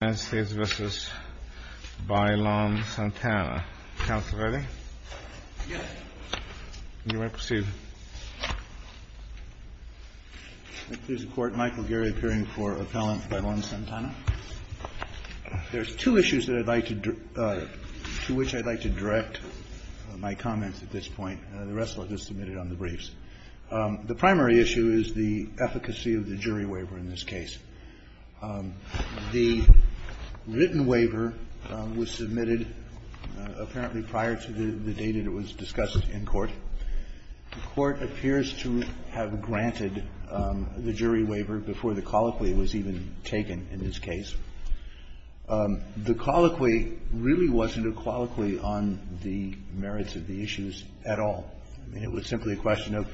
There's two issues to which I'd like to direct my comments at this point. The rest I'll just submit it on the briefs. The primary issue is the efficacy of the jury waiver in this case. The written waiver was submitted apparently prior to the date that it was discussed in court. The Court appears to have granted the jury waiver before the colloquy was even taken in this case. The colloquy really wasn't a colloquy on the merits of the issues at all. I mean, it was simply a question of,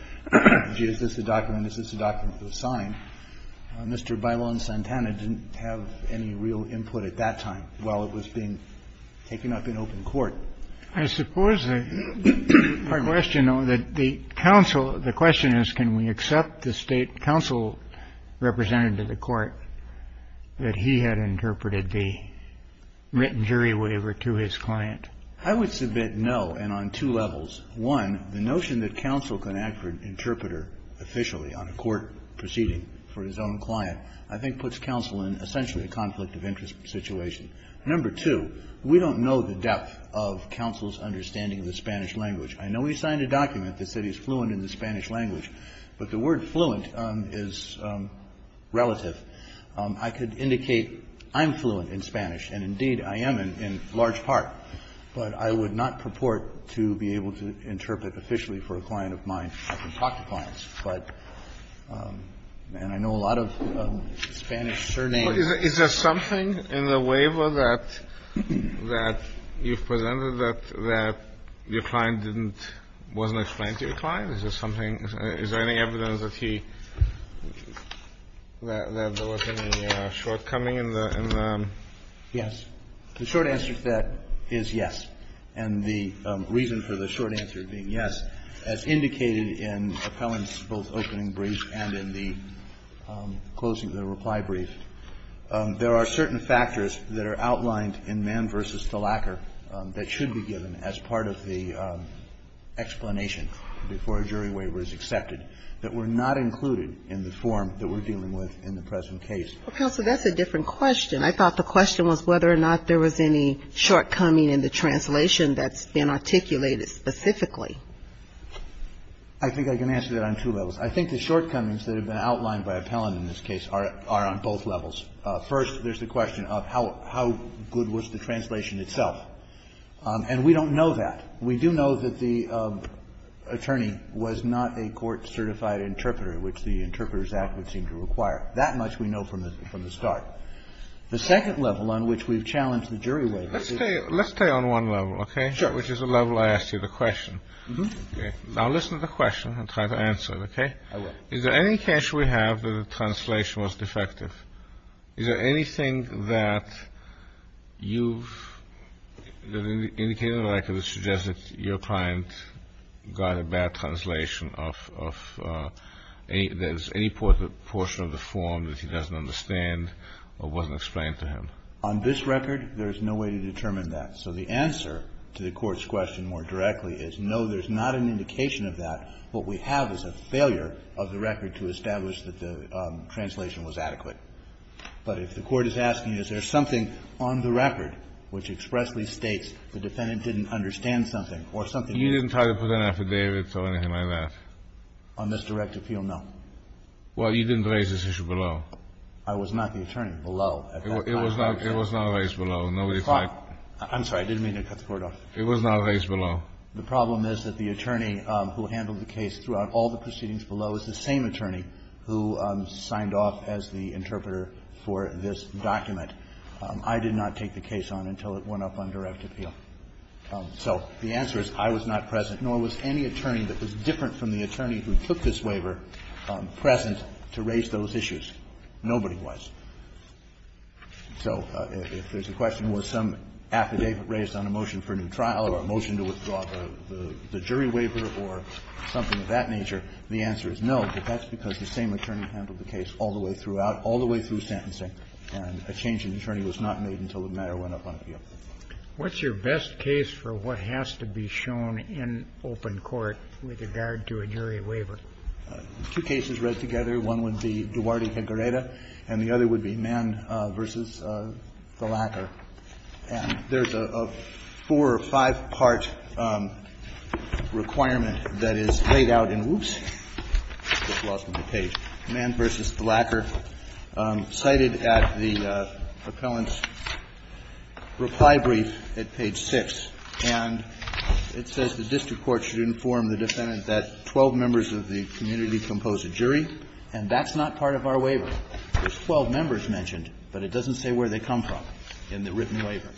gee, is this a document, is this a document to sign? Mr. Bailon-Santana didn't have any real input at that time while it was being taken up in open court. I suppose the question, though, that the counsel — the question is, can we accept the State counsel represented to the Court that he had interpreted the written jury waiver to his client? I would submit no, and on two levels. One, the notion that counsel can act for an interpreter officially on a court proceeding for his own client I think puts counsel in essentially a conflict of interest situation. Number two, we don't know the depth of counsel's understanding of the Spanish language. I know he signed a document that said he's fluent in the Spanish language, but the word fluent is relative. I could indicate I'm fluent in Spanish, and indeed I am in large part, but I would not purport to be able to interpret officially for a client of mine. I can talk to clients, but — and I know a lot of Spanish surnames. Is there something in the waiver that you've presented that your client didn't — wasn't explained to your client? Is there something — is there any evidence that he — that there wasn't any shortcoming in the — Yes. The short answer to that is yes. And the reason for the short answer being yes, as indicated in Appellant's both opening brief and in the closing of the reply brief, there are certain factors that are outlined in Mann v. Thalacker that should be given as part of the explanation before a jury waiver is accepted that were not included in the form that we're dealing with in the present case. Well, counsel, that's a different question. I thought the question was whether or not there was any shortcoming in the translation that's been articulated specifically. I think I can answer that on two levels. I think the shortcomings that have been outlined by Appellant in this case are on both levels. First, there's the question of how good was the translation itself. And we don't know that. We do know that the attorney was not a court-certified interpreter, which the Interpreters Act would seem to require. That much we know from the start. The second level on which we've challenged the jury waiver. Let's stay on one level, okay? Sure. Which is the level I asked you the question. Now listen to the question and try to answer it, okay? I will. Is there any case we have that the translation was defective? Is there anything that you've indicated or I could suggest that your client got a bad form that he doesn't understand or wasn't explained to him? On this record, there's no way to determine that. So the answer to the court's question more directly is no, there's not an indication of that. What we have is a failure of the record to establish that the translation was adequate. But if the court is asking, is there something on the record which expressly states the defendant didn't understand something or something you didn't try to put an affidavit or anything like that on this direct appeal? No. Well, you didn't raise this issue below. I was not the attorney below. It was not raised below. Nobody tried. I'm sorry. I didn't mean to cut the cord off. It was not raised below. The problem is that the attorney who handled the case throughout all the proceedings below is the same attorney who signed off as the interpreter for this document. I did not take the case on until it went up on direct appeal. So the answer is I was not present, nor was any attorney that was different from the present to raise those issues. Nobody was. So if there's a question, was some affidavit raised on a motion for a new trial or a motion to withdraw the jury waiver or something of that nature, the answer is no. But that's because the same attorney handled the case all the way throughout, all the way through sentencing. And a change in attorney was not made until the matter went up on appeal. What's your best case for what has to be shown in open court with regard to a jury waiver? Two cases read together. One would be Duarte v. Gareda, and the other would be Mann v. Thalacker. And there's a four- or five-part requirement that is laid out in the page. Mann v. Thalacker cited at the appellant's reply brief at page 6. And it says the district court should inform the defendant that 12 members of the community compose a jury, and that's not part of our waiver. There's 12 members mentioned, but it doesn't say where they come from in the written waiver.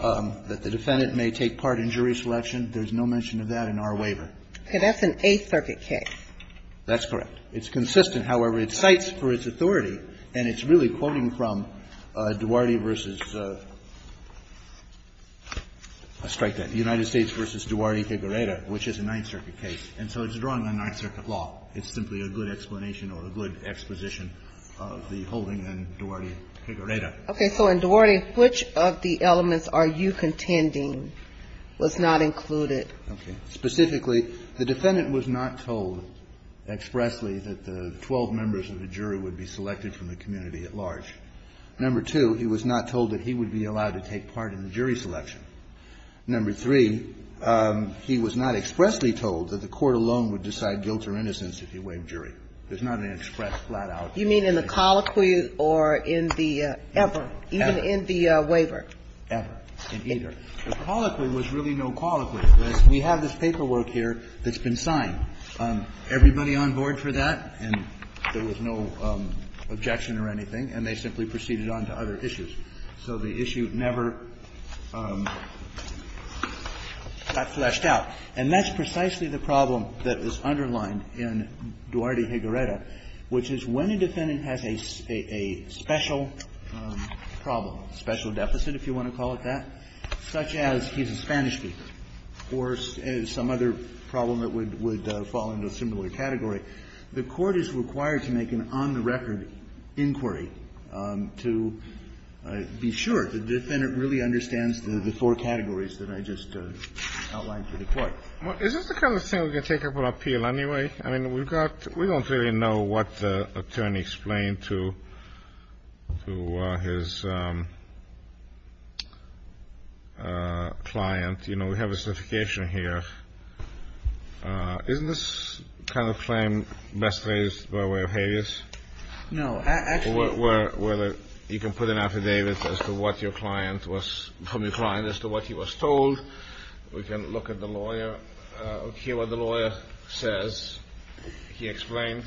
That the defendant may take part in jury selection, there's no mention of that in our waiver. Ginsburg-Cooker That's an Eighth Circuit case. Verrilli,, that's correct. It's consistent, however. It cites for its authority, and it's really quoting from Duarte v. Gareda. I'll strike that. United States v. Duarte v. Gareda, which is a Ninth Circuit case. And so it's drawing on Ninth Circuit law. It's simply a good explanation or a good exposition of the holding in Duarte v. Gareda. Ginsburg-Cooker Okay. So in Duarte, which of the elements are you contending was not included? Verrilli,, okay. Specifically, the defendant was not told expressly that the 12 members of the jury would be selected from the community at large. Number two, he was not told that he would be allowed to take part in the jury selection. Number three, he was not expressly told that the court alone would decide guilt or innocence if he waived jury. There's not an express, flat-out explanation. Ginsburg-Cooker You mean in the colloquy or in the ever, even in the waiver? Verrilli,, ever, in either. The colloquy was really no colloquy. We have this paperwork here that's been signed. Everybody on board for that, and there was no objection or anything. And they simply proceeded on to other issues. So the issue never got fleshed out. And that's precisely the problem that was underlined in Duarte-Gareda, which is when a defendant has a special problem, special deficit, if you want to call it that, such as he's a Spanish speaker or some other problem that would fall into a similar category, the court is required to make an on-the-record inquiry to determine if the defendant really understands the four categories that I just outlined for the court. Kennedy Is this the kind of thing we can take up on appeal anyway? I mean, we've got, we don't really know what the attorney explained to his client. You know, we have a certification here. Isn't this kind of claim best raised by way of habeas? Verrilli,, no. Actually, you can put an affidavit as to what your client was, from your client as to what he was told. We can look at the lawyer, hear what the lawyer says. He explained.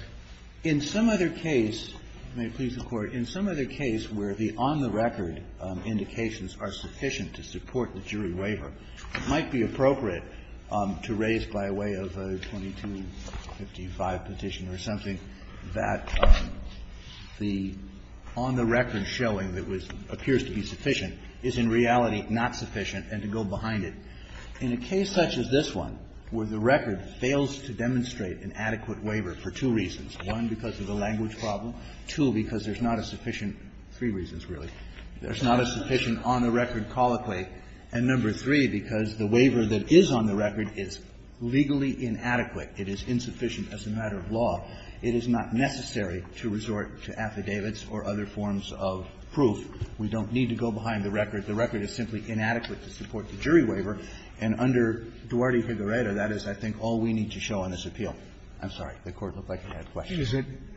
In some other case, may it please the Court, in some other case where the on-the-record indications are sufficient to support the jury waiver, it might be appropriate to raise by way of a 2255 petition or something that the on-the-record showing that was, appears to be sufficient is in reality not sufficient and to go behind it. In a case such as this one, where the record fails to demonstrate an adequate waiver for two reasons, one, because of the language problem, two, because there's not a sufficient, three reasons really, there's not a sufficient on-the-record colloquy, and number three, because the waiver that is on the record is legally inadequate. It is insufficient as a matter of law. It is not necessary to resort to affidavits or other forms of proof. We don't need to go behind the record. The record is simply inadequate to support the jury waiver, and under Duarte-Figueredo, that is, I think, all we need to show on this appeal. I'm sorry, the Court looked like it had a question.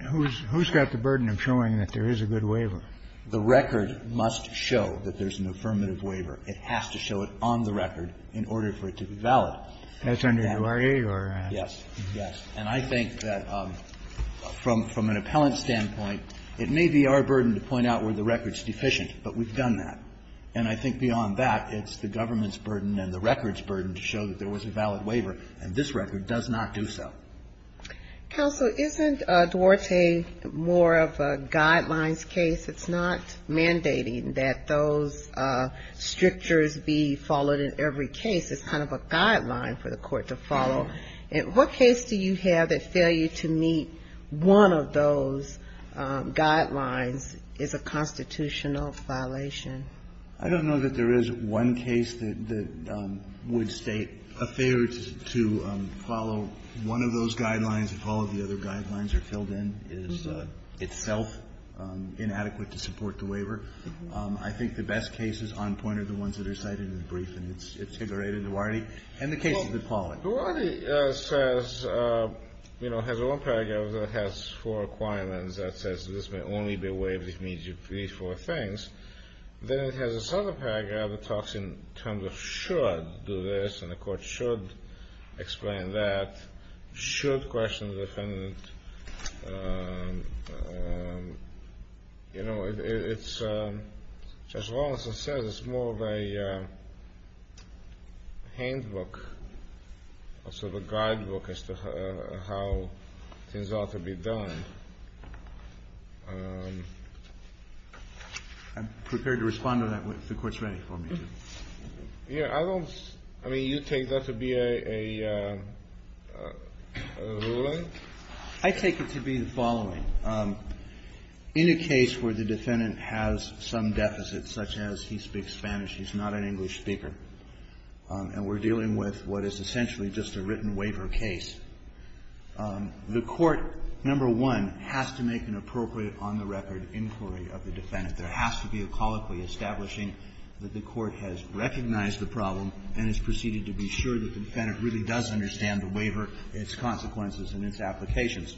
Kennedy, who's got the burden of showing that there is a good waiver? The record must show that there's an affirmative waiver. It has to show it on the record in order for it to be valid. That's under Duarte or? Yes. Yes. And I think that from an appellant standpoint, it may be our burden to point out where the record's deficient, but we've done that. And I think beyond that, it's the government's burden and the record's burden to show that there was a valid waiver, and this record does not do so. Counsel, isn't Duarte more of a guidelines case? It's not mandating that those strictures be followed in every case. It's kind of a guideline for the Court to follow. And what case do you have that failure to meet one of those guidelines is a constitutional violation? I don't know that there is one case that would state a failure to follow one of those guidelines if all of the other guidelines are filled in, is itself inadequate to support the waiver. I think the best cases on point are the ones that are cited in the brief, and it's highly rated in Duarte, and the cases that follow it. Duarte says, you know, has one paragraph that has four requirements that says that this may only be waived immediately for these four things. Then it has this other paragraph that talks in terms of should do this, and the Court should explain that, should question the defendant. You know, it's, as well as it says, it's more of a handbook, a sort of a guidebook as to how things ought to be done. I'm prepared to respond to that if the Court's ready for me to. Yeah, I don't, I mean, you take that to be a ruling? I take it to be the following. In a case where the defendant has some deficit, such as he speaks Spanish, he's not an English speaker, and we're dealing with what is essentially just a written waiver case, the Court, number one, has to make an appropriate on-the-record inquiry of the defendant. There has to be a colloquy establishing that the Court has recognized the problem and has proceeded to be sure that the defendant really does understand the waiver, its consequences, and its applications.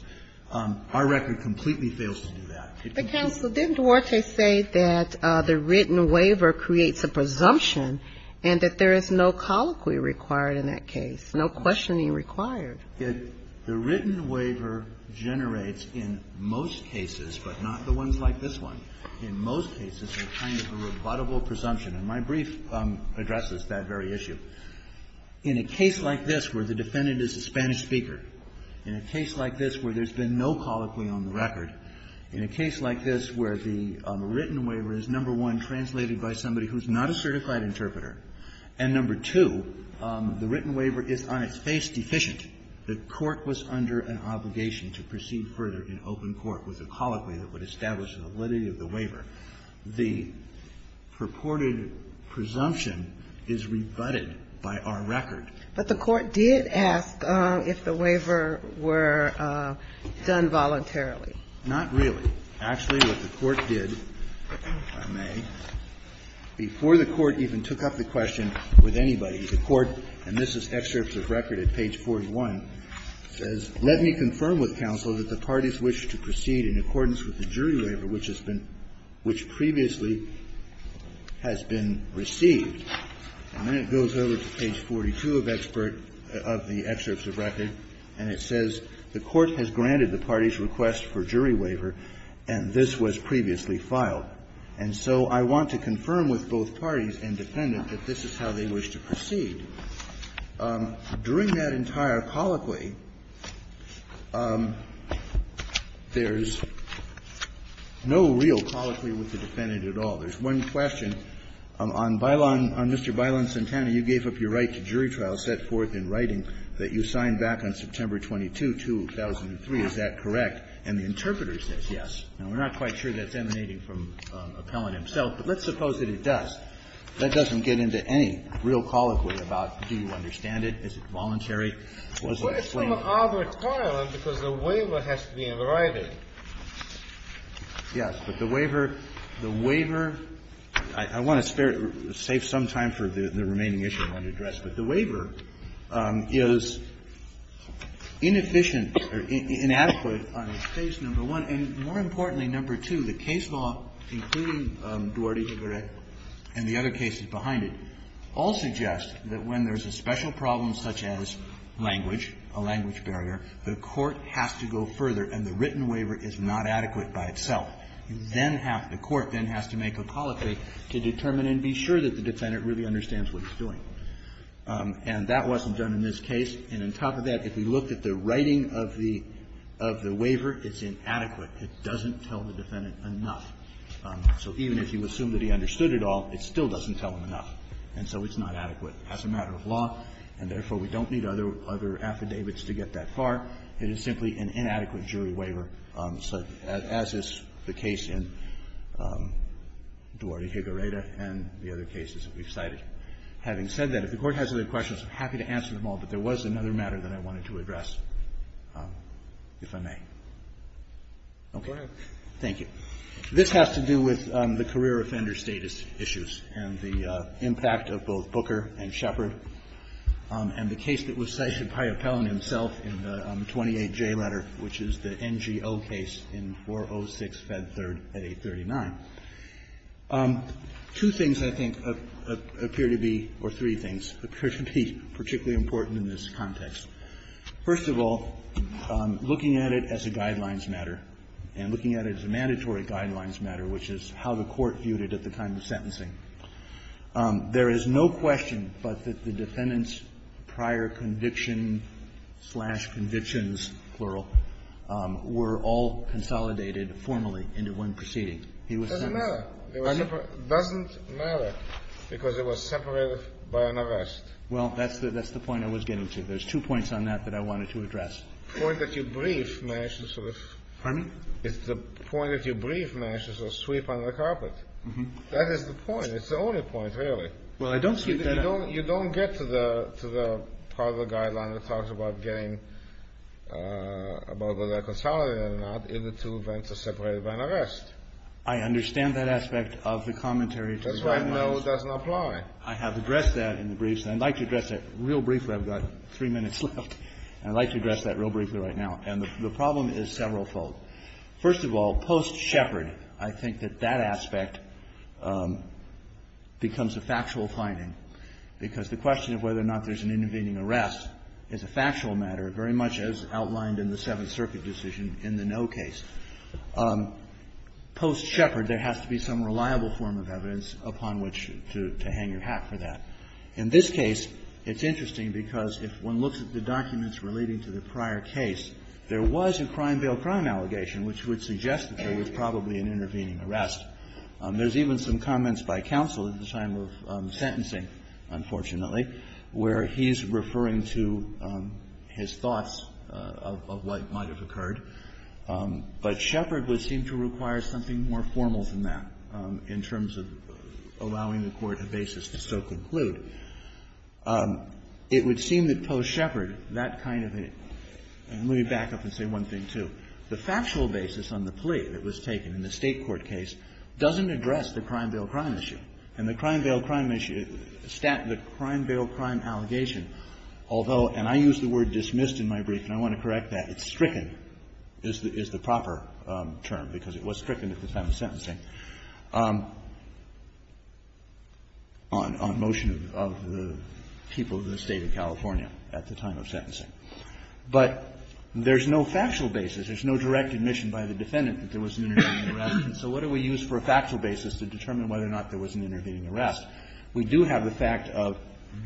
Our record completely fails to do that. But, Counsel, didn't Duarte say that the written waiver creates a presumption and that there is no colloquy required in that case, no questioning required? The written waiver generates, in most cases, but not the ones like this one, in most cases, a kind of a rebuttable presumption. And my brief addresses that very issue. In a case like this where the defendant is a Spanish speaker, in a case like this where there's been no colloquy on the record, in a case like this where the written waiver is on its face deficient, the Court was under an obligation to proceed further in open court with a colloquy that would establish the validity of the waiver. The purported presumption is rebutted by our record. But the Court did ask if the waiver were done voluntarily. Not really. Actually, what the Court did, if I may, before the Court even took up the question with anybody, the Court, and this is excerpts of record at page 41, says, Let me confirm with Counsel that the parties wish to proceed in accordance with the jury waiver which has been – which previously has been received. And then it goes over to page 42 of expert – of the excerpts of record, and it says, The Court has granted the parties' request for jury waiver, and this was previously filed. And so I want to confirm with both parties and defendant that this is how they wish to proceed. During that entire colloquy, there's no real colloquy with the defendant at all. There's one question. On Mr. Bailon-Centana, you gave up your right to jury trial, set forth in writing that you signed back on September 22, 2003. Is that correct? And the interpreter says yes. Now, we're not quite sure that's emanating from Appellant himself, but let's suppose that it does. That doesn't get into any real colloquy about do you understand it, is it voluntary, or is it a claim? It's a claim of our requirement because the waiver has to be in writing. Yes. But the waiver – the waiver – I want to spare – save some time for the remaining issue I want to address. But the waiver is inefficient or inadequate on its case, number one. And more importantly, number two, the case law, including Duarte-Gigoret and the other cases behind it, all suggest that when there's a special problem such as language, a language barrier, the court has to go further, and the written waiver is not adequate by itself. You then have – the court then has to make a colloquy to determine and be sure that the defendant really understands what he's doing. And that wasn't done in this case. And on top of that, if we looked at the writing of the – of the waiver, it's inadequate. It doesn't tell the defendant enough. So even if you assume that he understood it all, it still doesn't tell him enough. And so it's not adequate as a matter of law, and therefore, we don't need other – other affidavits to get that far. It is simply an inadequate jury waiver, as is the case in Duarte-Gigoreta and the other cases that we've cited. Having said that, if the Court has other questions, I'm happy to answer them all, but there was another matter that I wanted to address, if I may. Okay. Thank you. This has to do with the career offender status issues and the impact of both Booker and Shepard, and the case that was cited by Appellon himself in the 28J letter, which is the NGO case in 406 Fed 3rd at 839. Two things, I think, appear to be – or three things appear to be particularly important in this context. First of all, looking at it as a guidelines matter, and looking at it as a mandatory guidelines matter, which is how the Court viewed it at the time of sentencing, there is no question but that the defendant's prior conviction-slash-convictions, plural, were all consolidated formally into one proceeding. He was sentenced. It doesn't matter. It doesn't matter, because it was separated by an arrest. Well, that's the point I was getting to. There's two points on that that I wanted to address. The point that you briefed manages to sweep under the carpet. That is the point. It's the only point, really. Well, I don't see it that way. You don't get to the part of the guideline that talks about getting – about whether they're consolidated or not if the two events are separated by an arrest. I understand that aspect of the commentary to the guidelines. That's why no doesn't apply. I have addressed that in the briefs, and I'd like to address that real briefly. I've got three minutes left, and I'd like to address that real briefly right now. And the problem is several-fold. First of all, post-Shepherd, I think that that aspect becomes a factual finding, because the question of whether or not there's an intervening arrest is a factual matter, very much as outlined in the Seventh Circuit decision in the no case. Post-Shepherd, there has to be some reliable form of evidence upon which to hang your hat for that. In this case, it's interesting because if one looks at the documents relating to the prior case, there was a crime-bail-crime allegation which would suggest that there was probably an intervening arrest. There's even some comments by counsel at the time of sentencing, unfortunately, where he's referring to his thoughts of what might have occurred. But Shepherd would seem to require something more formal than that in terms of allowing the Court a basis to so conclude. It would seem that post-Shepherd, that kind of a – and let me back up and say one thing, too. The factual basis on the plea that was taken in the State court case doesn't address the crime-bail-crime issue. And the crime-bail-crime issue – the crime-bail-crime allegation, although – and I use the word dismissed in my brief, and I want to correct that. It's stricken is the proper term, because it was stricken at the time of sentencing on motion of the people of the State of California at the time of sentencing. But there's no factual basis. There's no direct admission by the defendant that there was an intervening arrest. And so what do we use for a factual basis to determine whether or not there was an intervening arrest? We do have the fact of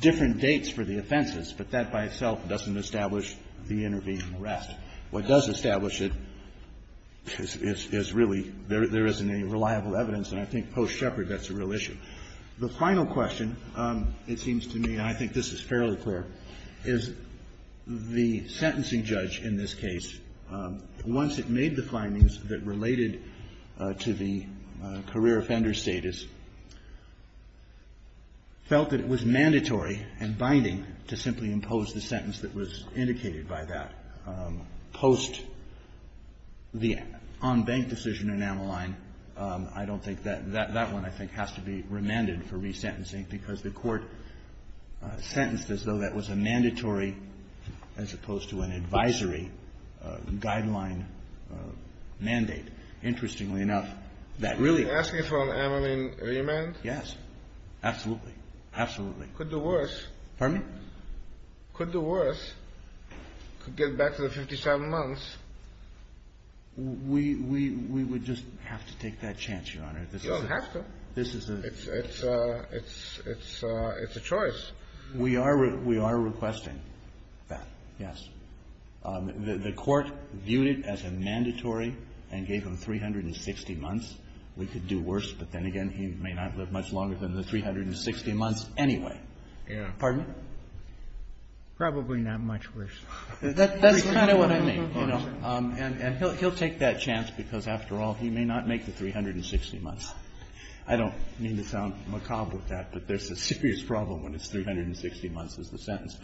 different dates for the offenses, but that by itself doesn't establish the intervening arrest. What does establish it is really there isn't any reliable evidence, and I think post-Shepherd that's a real issue. The final question, it seems to me, and I think this is fairly clear, is the sentencing judge in this case, once it made the findings that related to the career offender status, felt that it was mandatory and binding to simply impose the sentence that was indicated by that. Post the on-bank decision in Ammaline, I don't think that one, I think, has to be remanded for resentencing, because the Court sentenced as though that was a mandatory as opposed to an advisory guideline mandate. Interestingly enough, that really --. You're asking for an Ammaline remand? Yes. Absolutely. Absolutely. Could do worse. Pardon me? Could do worse. Could get back to the 57 months. We would just have to take that chance, Your Honor. You don't have to. It's a choice. We are requesting that, yes. The Court viewed it as a mandatory and gave him 360 months. We could do worse, but then again, he may not live much longer than the 360 months anyway. Pardon me? Probably not much worse. That's kind of what I mean. And he'll take that chance because, after all, he may not make the 360 months. I don't mean to sound macabre with that, but there's a serious problem when it's 360 months is the sentence.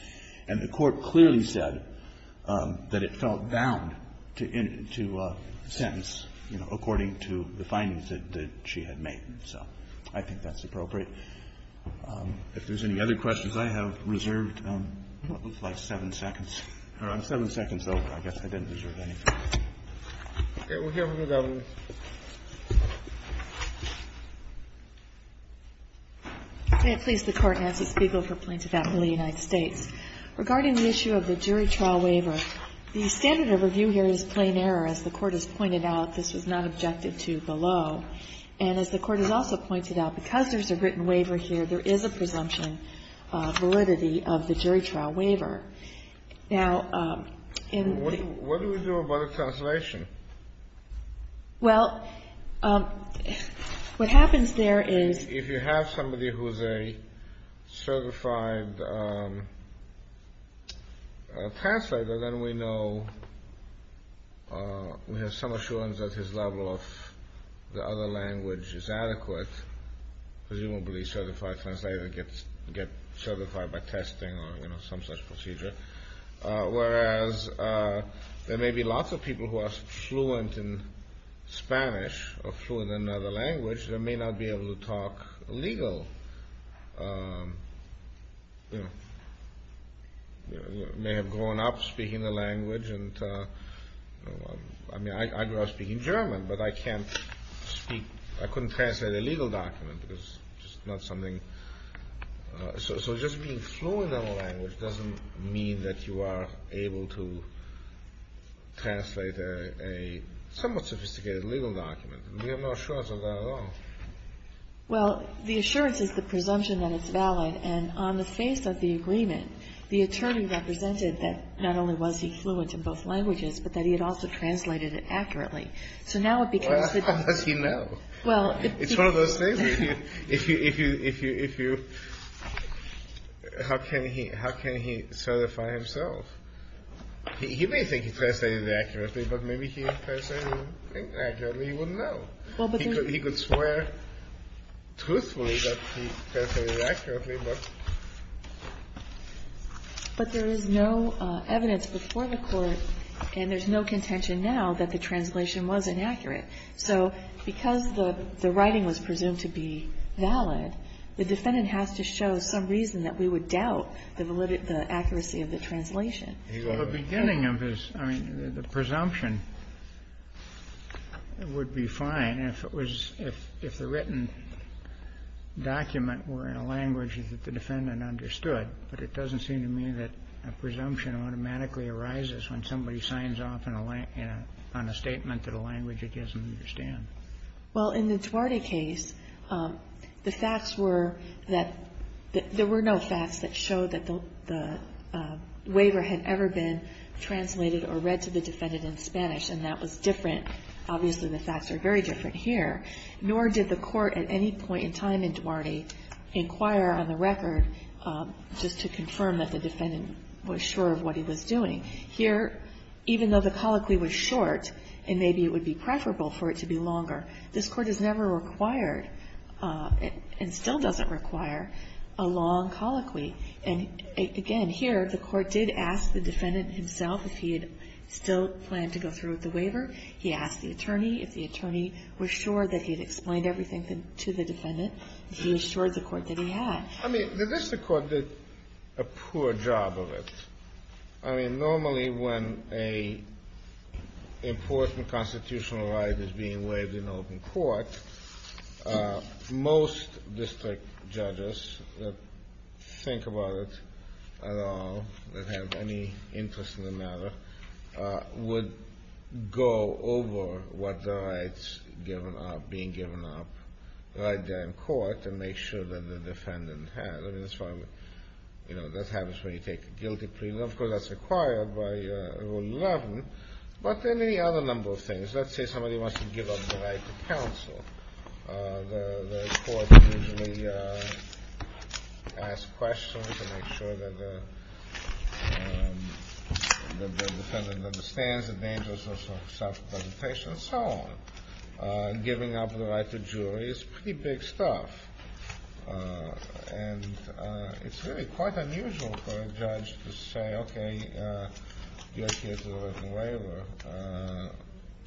And the Court clearly said that it felt bound to sentence, you know, according to the findings that she had made. So I think that's appropriate. If there's any other questions, I have reserved what looks like seven seconds. I'm seven seconds over. I guess I didn't reserve anything. Okay. We'll hear from the governors. May it please the Court. Nancy Spiegel for Plaintiff's Appeal of the United States. Regarding the issue of the jury trial waiver, the standard of review here is plain error. As the Court has pointed out, this was not objected to below. And as the Court has also pointed out, because there's a written waiver here, there is a presumption of validity of the jury trial waiver. Now, in the What do we do about a translation? Well, what happens there is If you have somebody who's a certified translator, then we know, we have some assurance that his level of the other language is adequate. Presumably a certified translator gets certified by testing or, you know, some such procedure. Whereas there may be lots of people who are fluent in Spanish or fluent in another language that may not be able to talk legal, you know, may have grown up speaking the language. And, you know, I mean, I grew up speaking German, but I can't speak, I couldn't translate a legal document because it's just not something. So just being fluent in a language doesn't mean that you are able to translate a somewhat sophisticated legal document. We have no assurance of that at all. Well, the assurance is the presumption that it's valid. And on the face of the agreement, the attorney represented that not only was he fluent in both languages, but that he had also translated it accurately. So now it becomes. Well, how does he know? Well, it's one of those things. If you, if you, if you, if you, how can he, how can he certify himself? He may think he translated it accurately, but maybe he translated it inaccurately. He wouldn't know. He could swear truthfully that he translated it accurately, but. But there is no evidence before the Court, and there's no contention now that the translation was inaccurate. So because the writing was presumed to be valid, the defendant has to show some reason that we would doubt the validity, the accuracy of the translation. The beginning of his, I mean, the presumption would be fine if it was, if the written document were in a language that the defendant understood. But it doesn't seem to me that a presumption automatically arises when somebody signs off on a statement in a language it doesn't understand. Well, in the Duarte case, the facts were that there were no facts that showed that the waiver had ever been translated or read to the defendant in Spanish. And that was different. Obviously, the facts are very different here. Nor did the Court at any point in time in Duarte inquire on the record just to confirm that the defendant was sure of what he was doing. Here, even though the colloquy was short, and maybe it would be preferable for it to be longer, this Court has never required, and still doesn't require, a long colloquy. And again, here, the Court did ask the defendant himself if he had still planned to go through with the waiver. He asked the attorney. If the attorney was sure that he had explained everything to the defendant, he assured the Court that he had. I mean, the district court did a poor job of it. I mean, normally when an important constitutional right is being waived in open court, most district judges that think about it at all, that have any interest in the matter, would go over what the rights given are, being given up, right there in court, and make sure that the defendant has. I mean, that's why, you know, that happens when you take a guilty plea. Of course, that's required by Rule 11. But there are many other number of things. Let's say somebody wants to give up the right to counsel. The Court usually asks questions to make sure that the defendant understands the dangers of self-representation, and so on. Giving up the right to jury is pretty big stuff, and it's really quite unusual for a judge,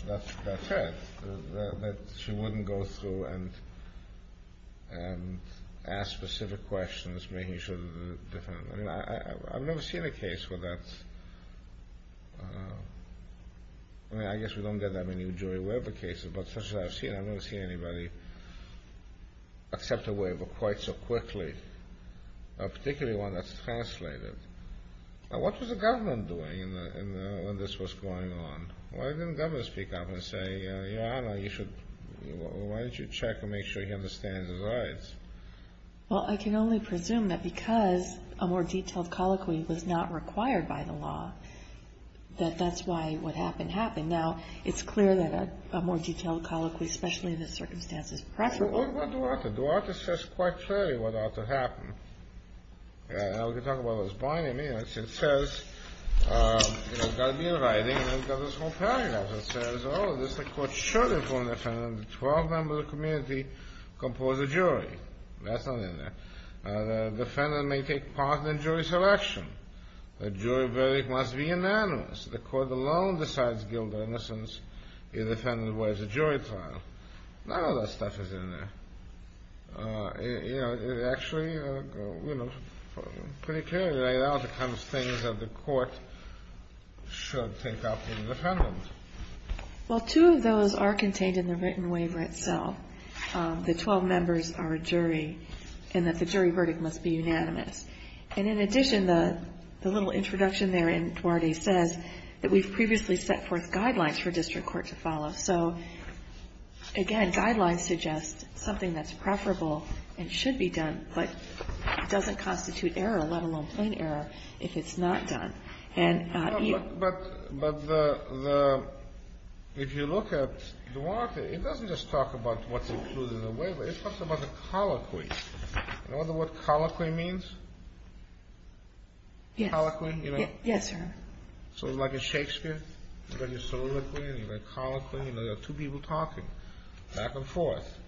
that's it, that she wouldn't go through and ask specific questions, making sure that the defendant... I mean, I've never seen a case where that's... I mean, I guess we don't get that many jury waiver cases, but such as I've seen, I've never seen anybody accept a waiver quite so quickly, particularly one that's translated. Now, what was the government doing when this was going on? Why didn't the government speak up and say, you know, I don't know, you should... Why don't you check and make sure he understands his rights? Well, I can only presume that because a more detailed colloquy was not required by the law, that that's why what happened happened. Now, it's clear that a more detailed colloquy, especially in this circumstance, is preferable. Well, what do I have to do? I have to assess quite clearly what ought to happen. Now, we can talk about what's binding me. It says, you know, it's got to be in writing, and it's got this whole paragraph that says, oh, the court should inform the defendant that twelve members of the community compose a jury. That's not in there. The defendant may take part in the jury selection. The jury verdict must be unanimous. The court alone decides guilt or innocence if the defendant waives a jury trial. None of that stuff is in there. You know, it actually, you know, pretty clearly laid out the kinds of things that the court should take up with the defendant. Well, two of those are contained in the written waiver itself. The twelve members are a jury, and that the jury verdict must be unanimous. And in addition, the little introduction there in Duarte says that we've previously set forth guidelines for district court to follow. So, again, guidelines suggest something that's preferable and should be done, but doesn't constitute error, let alone plain error, if it's not done. But if you look at Duarte, it doesn't just talk about what's included in the waiver. It talks about the colloquy. You know what colloquy means? Yes. Yes, sir. So, like in Shakespeare, you've got your soliloquy and your colloquy, and there are two people talking back and forth.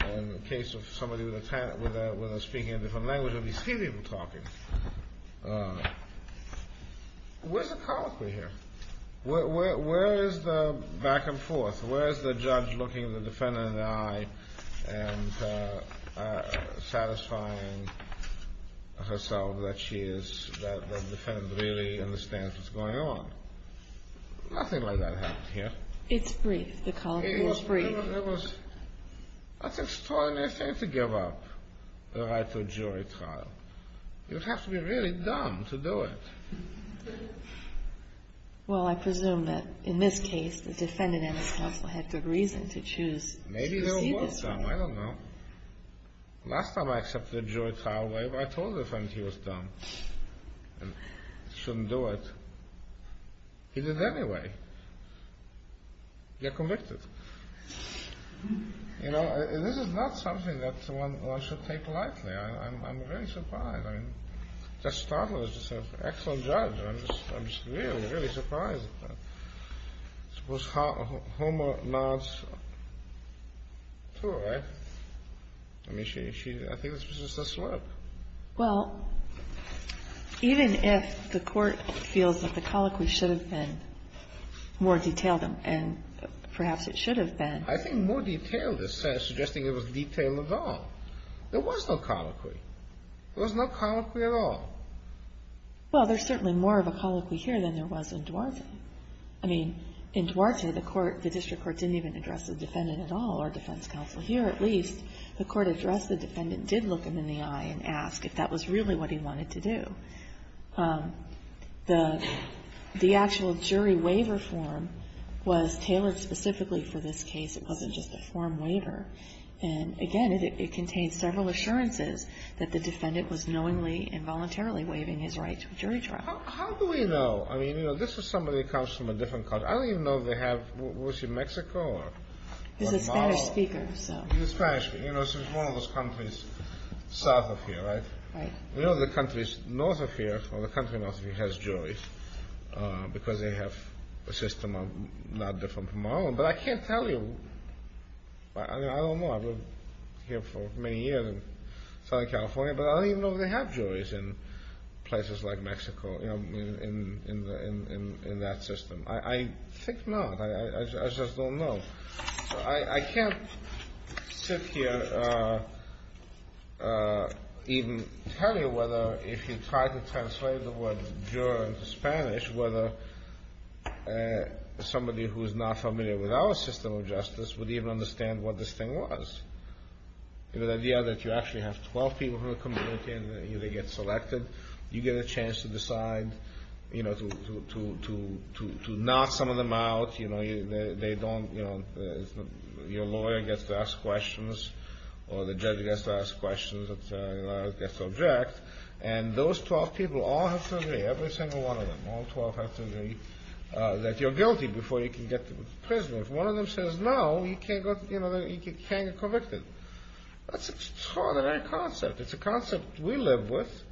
In the case of somebody with a speaking a different language, there'll be three people talking. Where's the colloquy here? Where is the back and forth? Where is the judge looking the defendant in the eye and satisfying herself that she is, that the defendant really understands what's going on? Nothing like that happened here. It's brief. The colloquy was brief. It was. That's an extraordinary thing to give up the right to a jury trial. You'd have to be really dumb to do it. Well, I presume that, in this case, the defendant and his counsel had good reason to choose to receive this waiver. Maybe there was some. I don't know. Last time I accepted a jury trial waiver, I told the defendant he was dumb and shouldn't do it. He did it anyway. You're convicted. You know, this is not something that one should take lightly. I'm very surprised. I mean, just startled. It's just an excellent judge. I'm just really, really surprised. I suppose Homer nods to her, right? I mean, I think it was just a slip. Well, even if the court feels that the colloquy should have been more detailed and perhaps it should have been. I think more detailed is suggesting it was detailed at all. There was no colloquy. There was no colloquy at all. Well, there's certainly more of a colloquy here than there was in Duarte. I mean, in Duarte, the court, the district court didn't even address the defendant at all, or defense counsel here at least. The court addressed the defendant, did look him in the eye and ask if that was really what he wanted to do. The actual jury waiver form was tailored specifically for this case. It wasn't just a form waiver. And again, it contained several assurances that the defendant was knowingly and voluntarily waiving his right to a jury trial. How do we know? I mean, this is somebody who comes from a different country. I don't even know if they have, was he Mexico or? He's a Spanish speaker, so. He's Spanish. You know, so he's one of those countries south of here, right? Right. You know the countries north of here, or the country north of here has juries because they have a system of not different from our own. But I can't tell you. I don't know. I've lived here for many years in Southern California, but I don't even know if they have juries in places like Mexico, in that system. I think not. I just don't know. I can't sit here and even tell you whether if you try to translate the word juror into our system of justice would even understand what this thing was. The idea that you actually have 12 people from the community and they get selected, you get a chance to decide, you know, to knock some of them out, you know, they don't, you know, your lawyer gets to ask questions or the judge gets to ask questions or the judge gets to object. And those 12 people all have to agree, every single one of them, all 12 have to agree that you're guilty before you can get to prison. If one of them says no, you can't get convicted. That's an extraordinary concept. It's a concept we live with,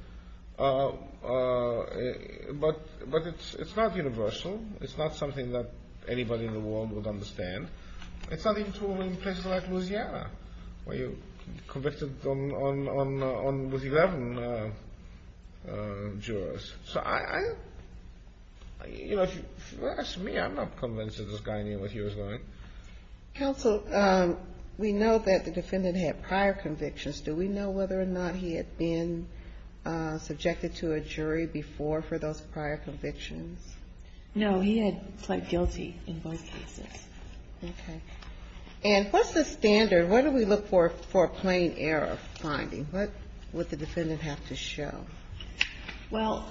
but it's not universal. It's not something that anybody in the world would understand. It's not even true in places like Louisiana, where you're convicted with 11 jurors. So I, you know, if you ask me, I'm not convinced that this guy knew what he was doing. Counsel, we know that the defendant had prior convictions. Do we know whether or not he had been subjected to a jury before for those prior convictions? No, he had pled guilty in both cases. Okay. And what's the standard? What do we look for for a plain error finding? What would the defendant have to show? Well,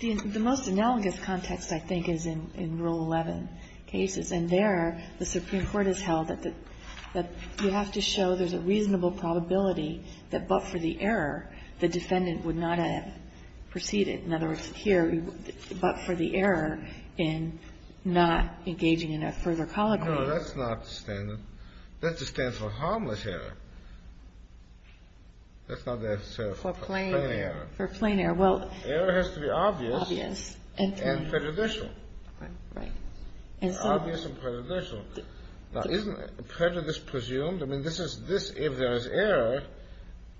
the most analogous context, I think, is in Rule 11 cases. And there, the Supreme Court has held that you have to show there's a reasonable probability that but for the error, the defendant would not have proceeded. In other words, here, but for the error in not engaging in a further colloquy. No, that's not the standard. That's the standard for harmless error. That's not the standard for plain error. For plain error. Error has to be obvious and prejudicial. Right. Obvious and prejudicial. Now, isn't prejudice presumed? I mean, if there's error,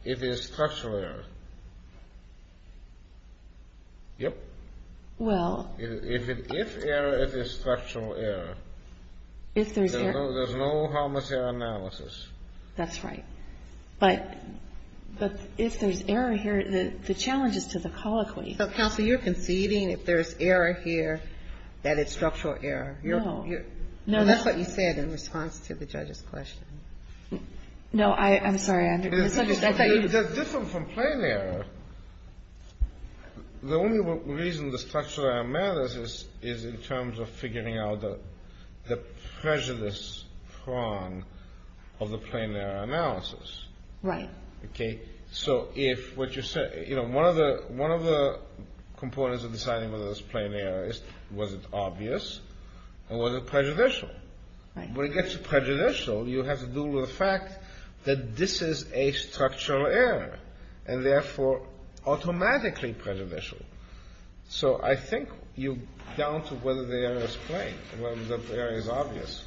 it is structural error. Yep. Well. If error, it is structural error. If there's error. There's no harmless error analysis. That's right. But if there's error here, the challenge is to the colloquy. Counsel, you're conceding if there's error here, that it's structural error. No. That's what you said in response to the judge's question. No. I'm sorry. I thought you were. It's different from plain error. The only reason the structural error matters is in terms of figuring out the prejudice prong of the plain error analysis. Right. Okay? So if what you said, you know, one of the components of deciding whether it's plain error is, was it obvious or was it prejudicial? Right. When it gets to prejudicial, you have to do with the fact that this is a structural error and therefore automatically prejudicial. So I think you're down to whether the error is plain, whether the error is obvious.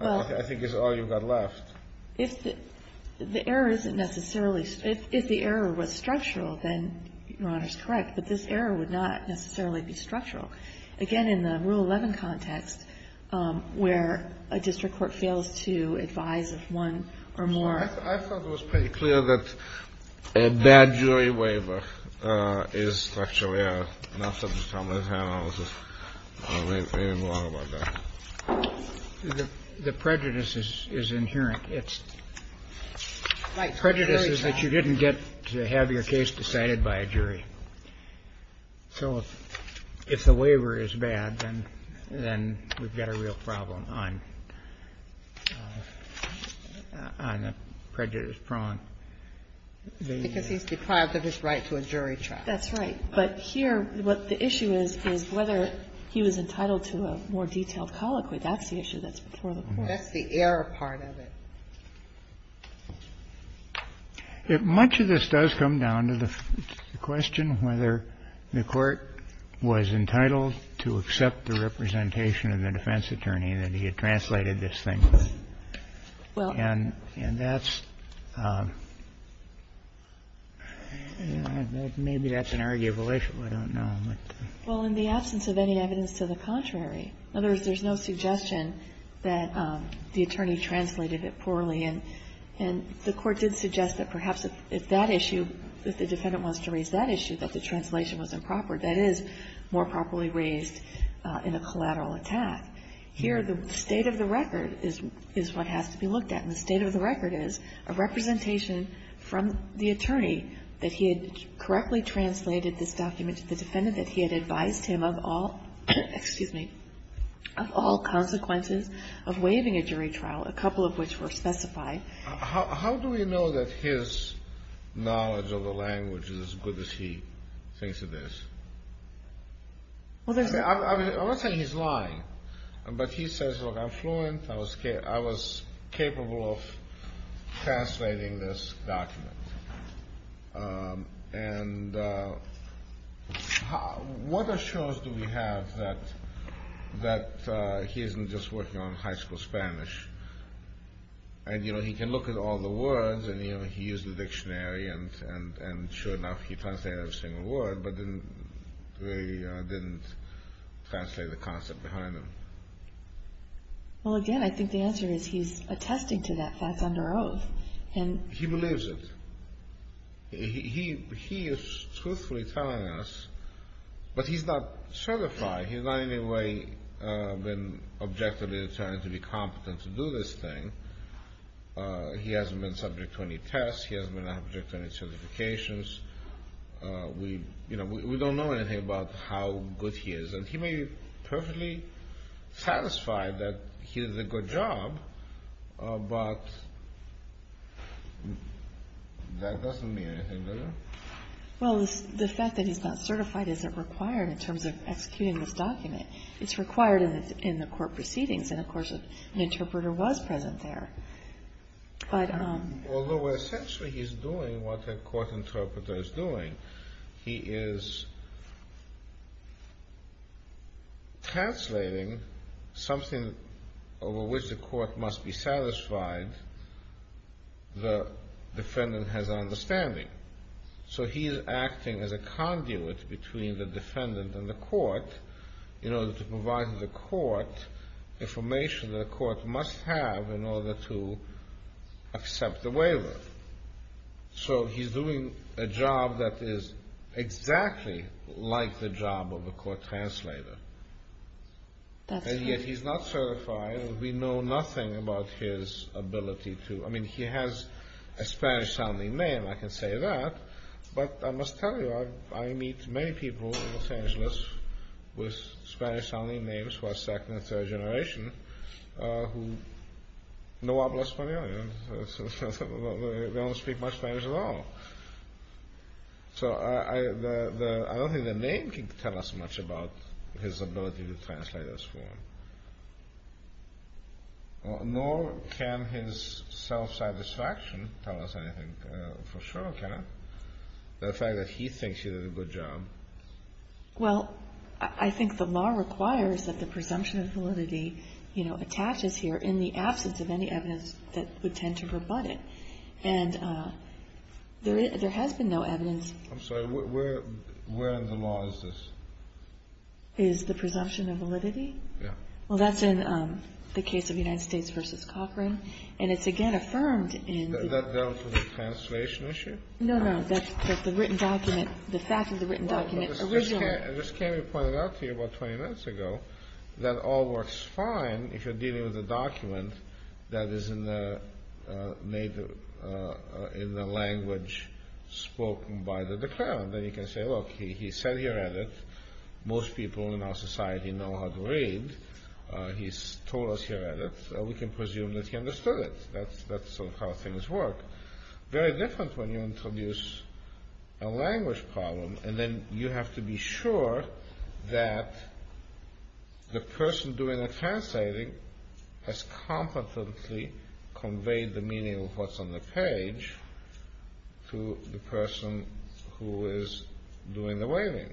Well. I think that's all you've got left. If the error isn't necessarily, if the error was structural, then Your Honor's correct, but this error would not necessarily be structural. Again, in the Rule 11 context, where a district court fails to advise of one or more. I thought it was pretty clear that a bad jury waiver is structural error, and that's something to come to his head. I don't know if there's anything wrong about that. The prejudice is inherent. Prejudice is that you didn't get to have your case decided by a jury. So if the waiver is bad, then we've got a real problem on the prejudice prong. Because he's deprived of his right to a jury trial. That's right. But here, what the issue is, is whether he was entitled to a more detailed colloquy. That's the issue that's before the court. That's the error part of it. Much of this does come down to the question whether the court was entitled to accept the representation of the defense attorney that he had translated this thing. And that's, maybe that's an arguable issue. I don't know. Well, in the absence of any evidence to the contrary, in other words, there's no suggestion that the attorney translated it poorly. And the Court did suggest that perhaps if that issue, if the defendant wants to raise that issue, that the translation was improper. That is, more properly raised in a collateral attack. Here, the state of the record is what has to be looked at. And the state of the record is a representation from the attorney that he had correctly translated this document to the defendant that he had advised him of all consequences of waiving a jury trial, a couple of which were specified. How do we know that his knowledge of the language is as good as he thinks it is? I'm not saying he's lying. But he says, look, I'm fluent. I was capable of translating this document. And what assurance do we have that he isn't just working on high school Spanish? And, you know, he can look at all the words. And he used the dictionary. And sure enough, he translated every single word. But they didn't translate the concept behind them. Well, again, I think the answer is he's attesting to that that's under oath. He believes it. He is truthfully telling us. But he's not certified. He's not in any way been objectively determined to be competent to do this thing. He hasn't been subject to any tests. He hasn't been subject to any certifications. We don't know anything about how good he is. And he may be perfectly satisfied that he did a good job. But that doesn't mean anything, does it? Well, the fact that he's not certified isn't required in terms of executing this document. It's required in the court proceedings. And, of course, an interpreter was present there. Although essentially he's doing what a court interpreter is doing. He is translating something over which the court must be satisfied the defendant has an understanding. So he's acting as a conduit between the defendant and the court in order to provide the court information the court must have in order to accept the waiver. So he's doing a job that is exactly like the job of a court translator. And yet he's not certified. We know nothing about his ability to... I mean, he has a Spanish-sounding name, I can say that. But I must tell you, I meet many people in Los Angeles with Spanish-sounding names who are second and third generation who know a lot of Spanish. They don't speak much Spanish at all. So I don't think the name can tell us much about his ability to translate this form. Nor can his self-satisfaction tell us anything for sure, can it? The fact that he thinks he did a good job. Well, I think the law requires that the presumption of validity attaches here in the absence of any evidence that would tend to rebut it. And there has been no evidence... I'm sorry, where in the law is this? Is the presumption of validity? Well, that's in the case of United States v. Cochran. And it's again affirmed in... That dealt with the translation issue? No, no, that's the written document. The fact of the written document originally... I just came to point it out to you about 20 minutes ago that all works fine if you're dealing with a document that is in the language spoken by the declarant. Then you can say, look, he sat here at it. Most people in our society know how to read. He told us here at it, so we can presume that he understood it. That's sort of how things work. Very different when you introduce a language problem and then you have to be sure that the person doing the translating has competently conveyed the meaning of what's on the page to the person who is doing the waving.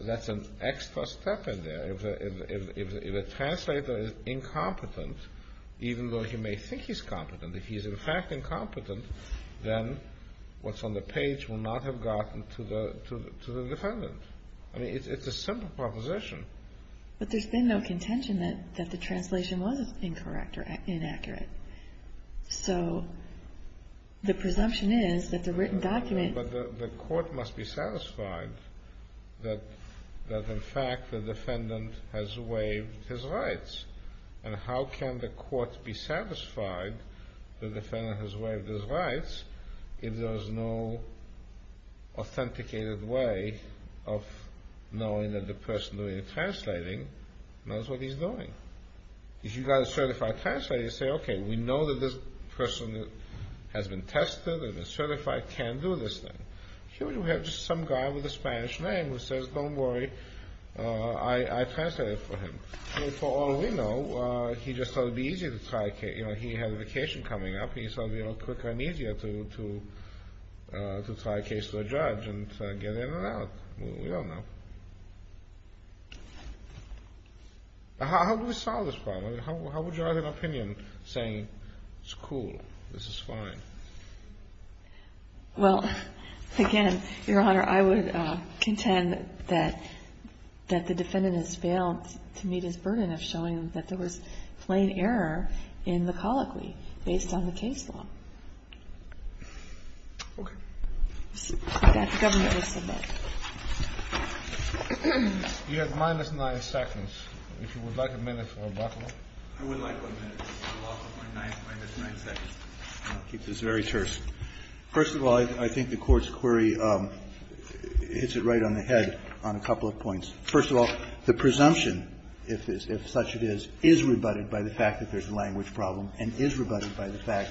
That's an extra step in there. If a translator is incompetent, even though he may think he's competent, if he's in fact incompetent, then what's on the page will not have gotten to the defendant. I mean, it's a simple proposition. But there's been no contention that the translation was incorrect or inaccurate. So the presumption is that the written document... But the court must be satisfied that in fact the defendant has waived his rights. And how can the court be satisfied that the defendant has waived his rights if there is no authenticated way of knowing that the person doing the translating knows what he's doing? If you've got a certified translator, you say, OK, we know that this person has been tested and is certified, can do this thing. Here we have just some guy with a Spanish name who says, don't worry, I translated for him. For all we know, he just thought it would be easier to try a case. You know, he had a vacation coming up and he thought it would be quicker and easier to try a case with a judge and get in and out. We don't know. How do we solve this problem? How would you argue an opinion saying, it's cool, this is fine? Well, again, Your Honor, I would contend that the defendant has failed to meet his burden of showing that there was plain error in the colloquy based on the case law. OK. That the government listened to. You have minus nine seconds. If you would like a minute for rebuttal. I would like one minute. I'll keep this very terse. First of all, I think the Court's query hits it right on the head on a couple of points. First of all, the presumption, if such it is, is rebutted by the fact that there's a language problem and is rebutted by the fact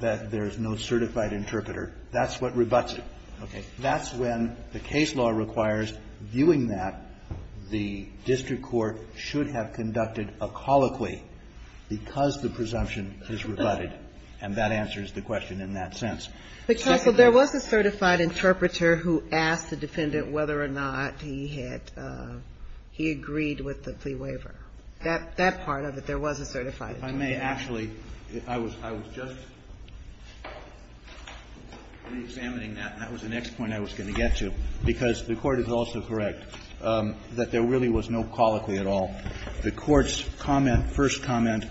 that there's no certified interpreter. That's what rebutts it. OK. That's when the case law requires viewing that the district court should have conducted a colloquy because the presumption is rebutted. And that answers the question in that sense. But, counsel, there was a certified interpreter who asked the defendant whether or not he had, he agreed with the plea waiver. That part of it, there was a certified interpreter. If I may, actually, I was just reexamining that. That was the next point I was going to get to. Because the Court is also correct that there really was no colloquy at all. The Court's comment, first comment,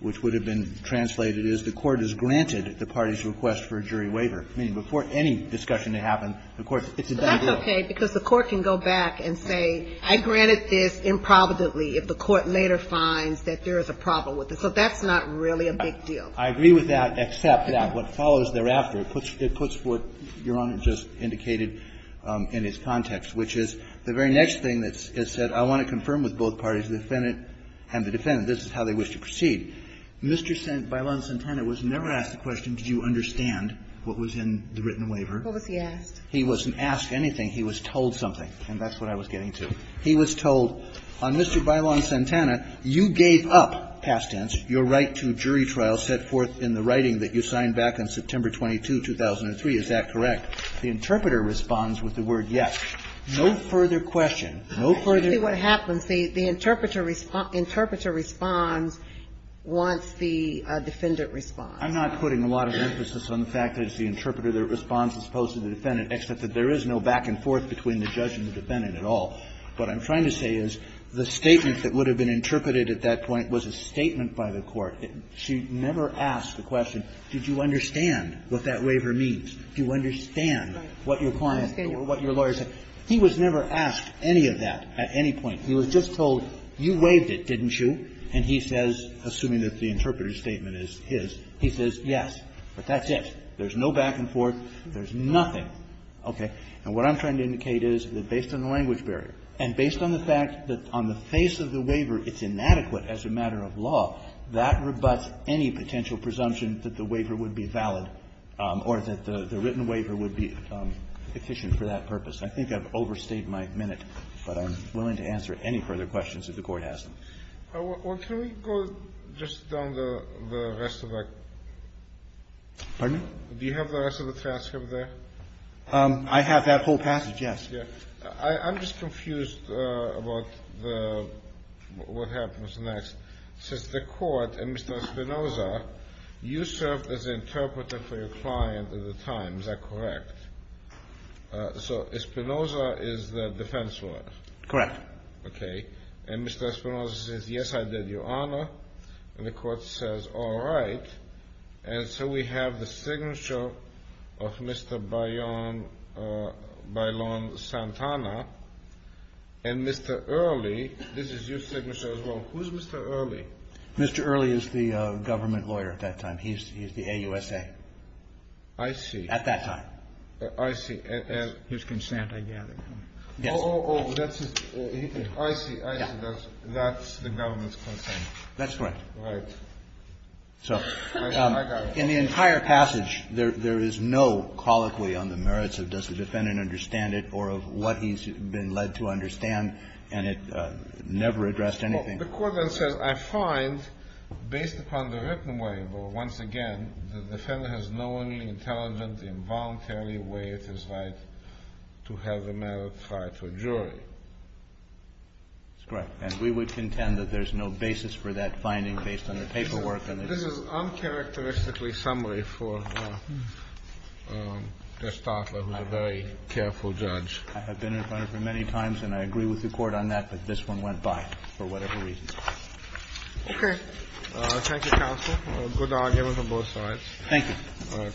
which would have been translated is the Court has granted the party's request for a jury waiver. Meaning before any discussion had happened, the Court said it's a done deal. But that's OK, because the Court can go back and say I granted this improvidently if the Court later finds that there is a problem with it. So that's not really a big deal. I agree with that, except that what follows thereafter, it puts what Your Honor just indicated in its context, which is the very next thing that's said, I want to confirm with both parties, the defendant and the defendant, this is how they wish to proceed. Mr. Bailon-Santana was never asked the question, did you understand what was in the written waiver? What was he asked? He wasn't asked anything. He was told something. And that's what I was getting to. He was told, on Mr. Bailon-Santana, you gave up, past tense, your right to jury trial set forth in the writing that you signed back on September 22, 2003. Is that correct? The interpreter responds with the word, yes. No further question. No further question. I see what happens. The interpreter responds once the defendant responds. I'm not putting a lot of emphasis on the fact that it's the interpreter that responds as opposed to the defendant, except that there is no back and forth between the judge and the defendant at all. What I'm trying to say is the statement that would have been interpreted at that point was a statement by the Court. She never asked the question, did you understand what that waiver means? Do you understand what your client or what your lawyer said? He was never asked any of that at any point. He was just told, you waived it, didn't you? And he says, assuming that the interpreter's statement is his, he says, yes. But that's it. There's no back and forth. There's nothing. Okay. And what I'm trying to indicate is that, based on the language barrier and based on the fact that on the face of the waiver it's inadequate as a matter of law, that rebutts any potential presumption that the written waiver would be efficient for that purpose. I think I've overstayed my minute, but I'm willing to answer any further questions if the Court has them. Well, can we go just down the rest of that? Pardon? Do you have the rest of the transcript there? I have that whole passage, yes. Yes. I'm just confused about the what happens next. Since the Court and Mr. Espinoza, you served as an interpreter for your client at the time. Is that correct? So Espinoza is the defense lawyer? Correct. Okay. And Mr. Espinoza says, yes, I did, Your Honor. And the Court says, all right. And so we have the signature of Mr. Baylon Santana. And Mr. Early, this is your signature as well. Who's Mr. Early? Mr. Early is the government lawyer at that time. He's the AUSA. I see. At that time. I see. His consent, I gather. Yes. Oh, oh, oh. That's his. I see. I see. That's the government's consent. That's correct. Right. So in the entire passage, there is no colloquy on the merits of does the defendant understand it or of what he's been led to understand. And it never addressed anything. The Court then says, I find, based upon the written way, but once again, the defendant has no only intelligent involuntary way, it is right to have a merit trial to a jury. That's correct. And we would contend that there's no basis for that finding based on the paperwork. And this is uncharacteristically summary for Gestapo, who's a very careful judge. I have been in front of him many times, and I agree with the Court on that. But this one went by for whatever reason. Okay. Thank you, counsel. Good argument on both sides. Thank you. Cratchit, you will stand surrounded.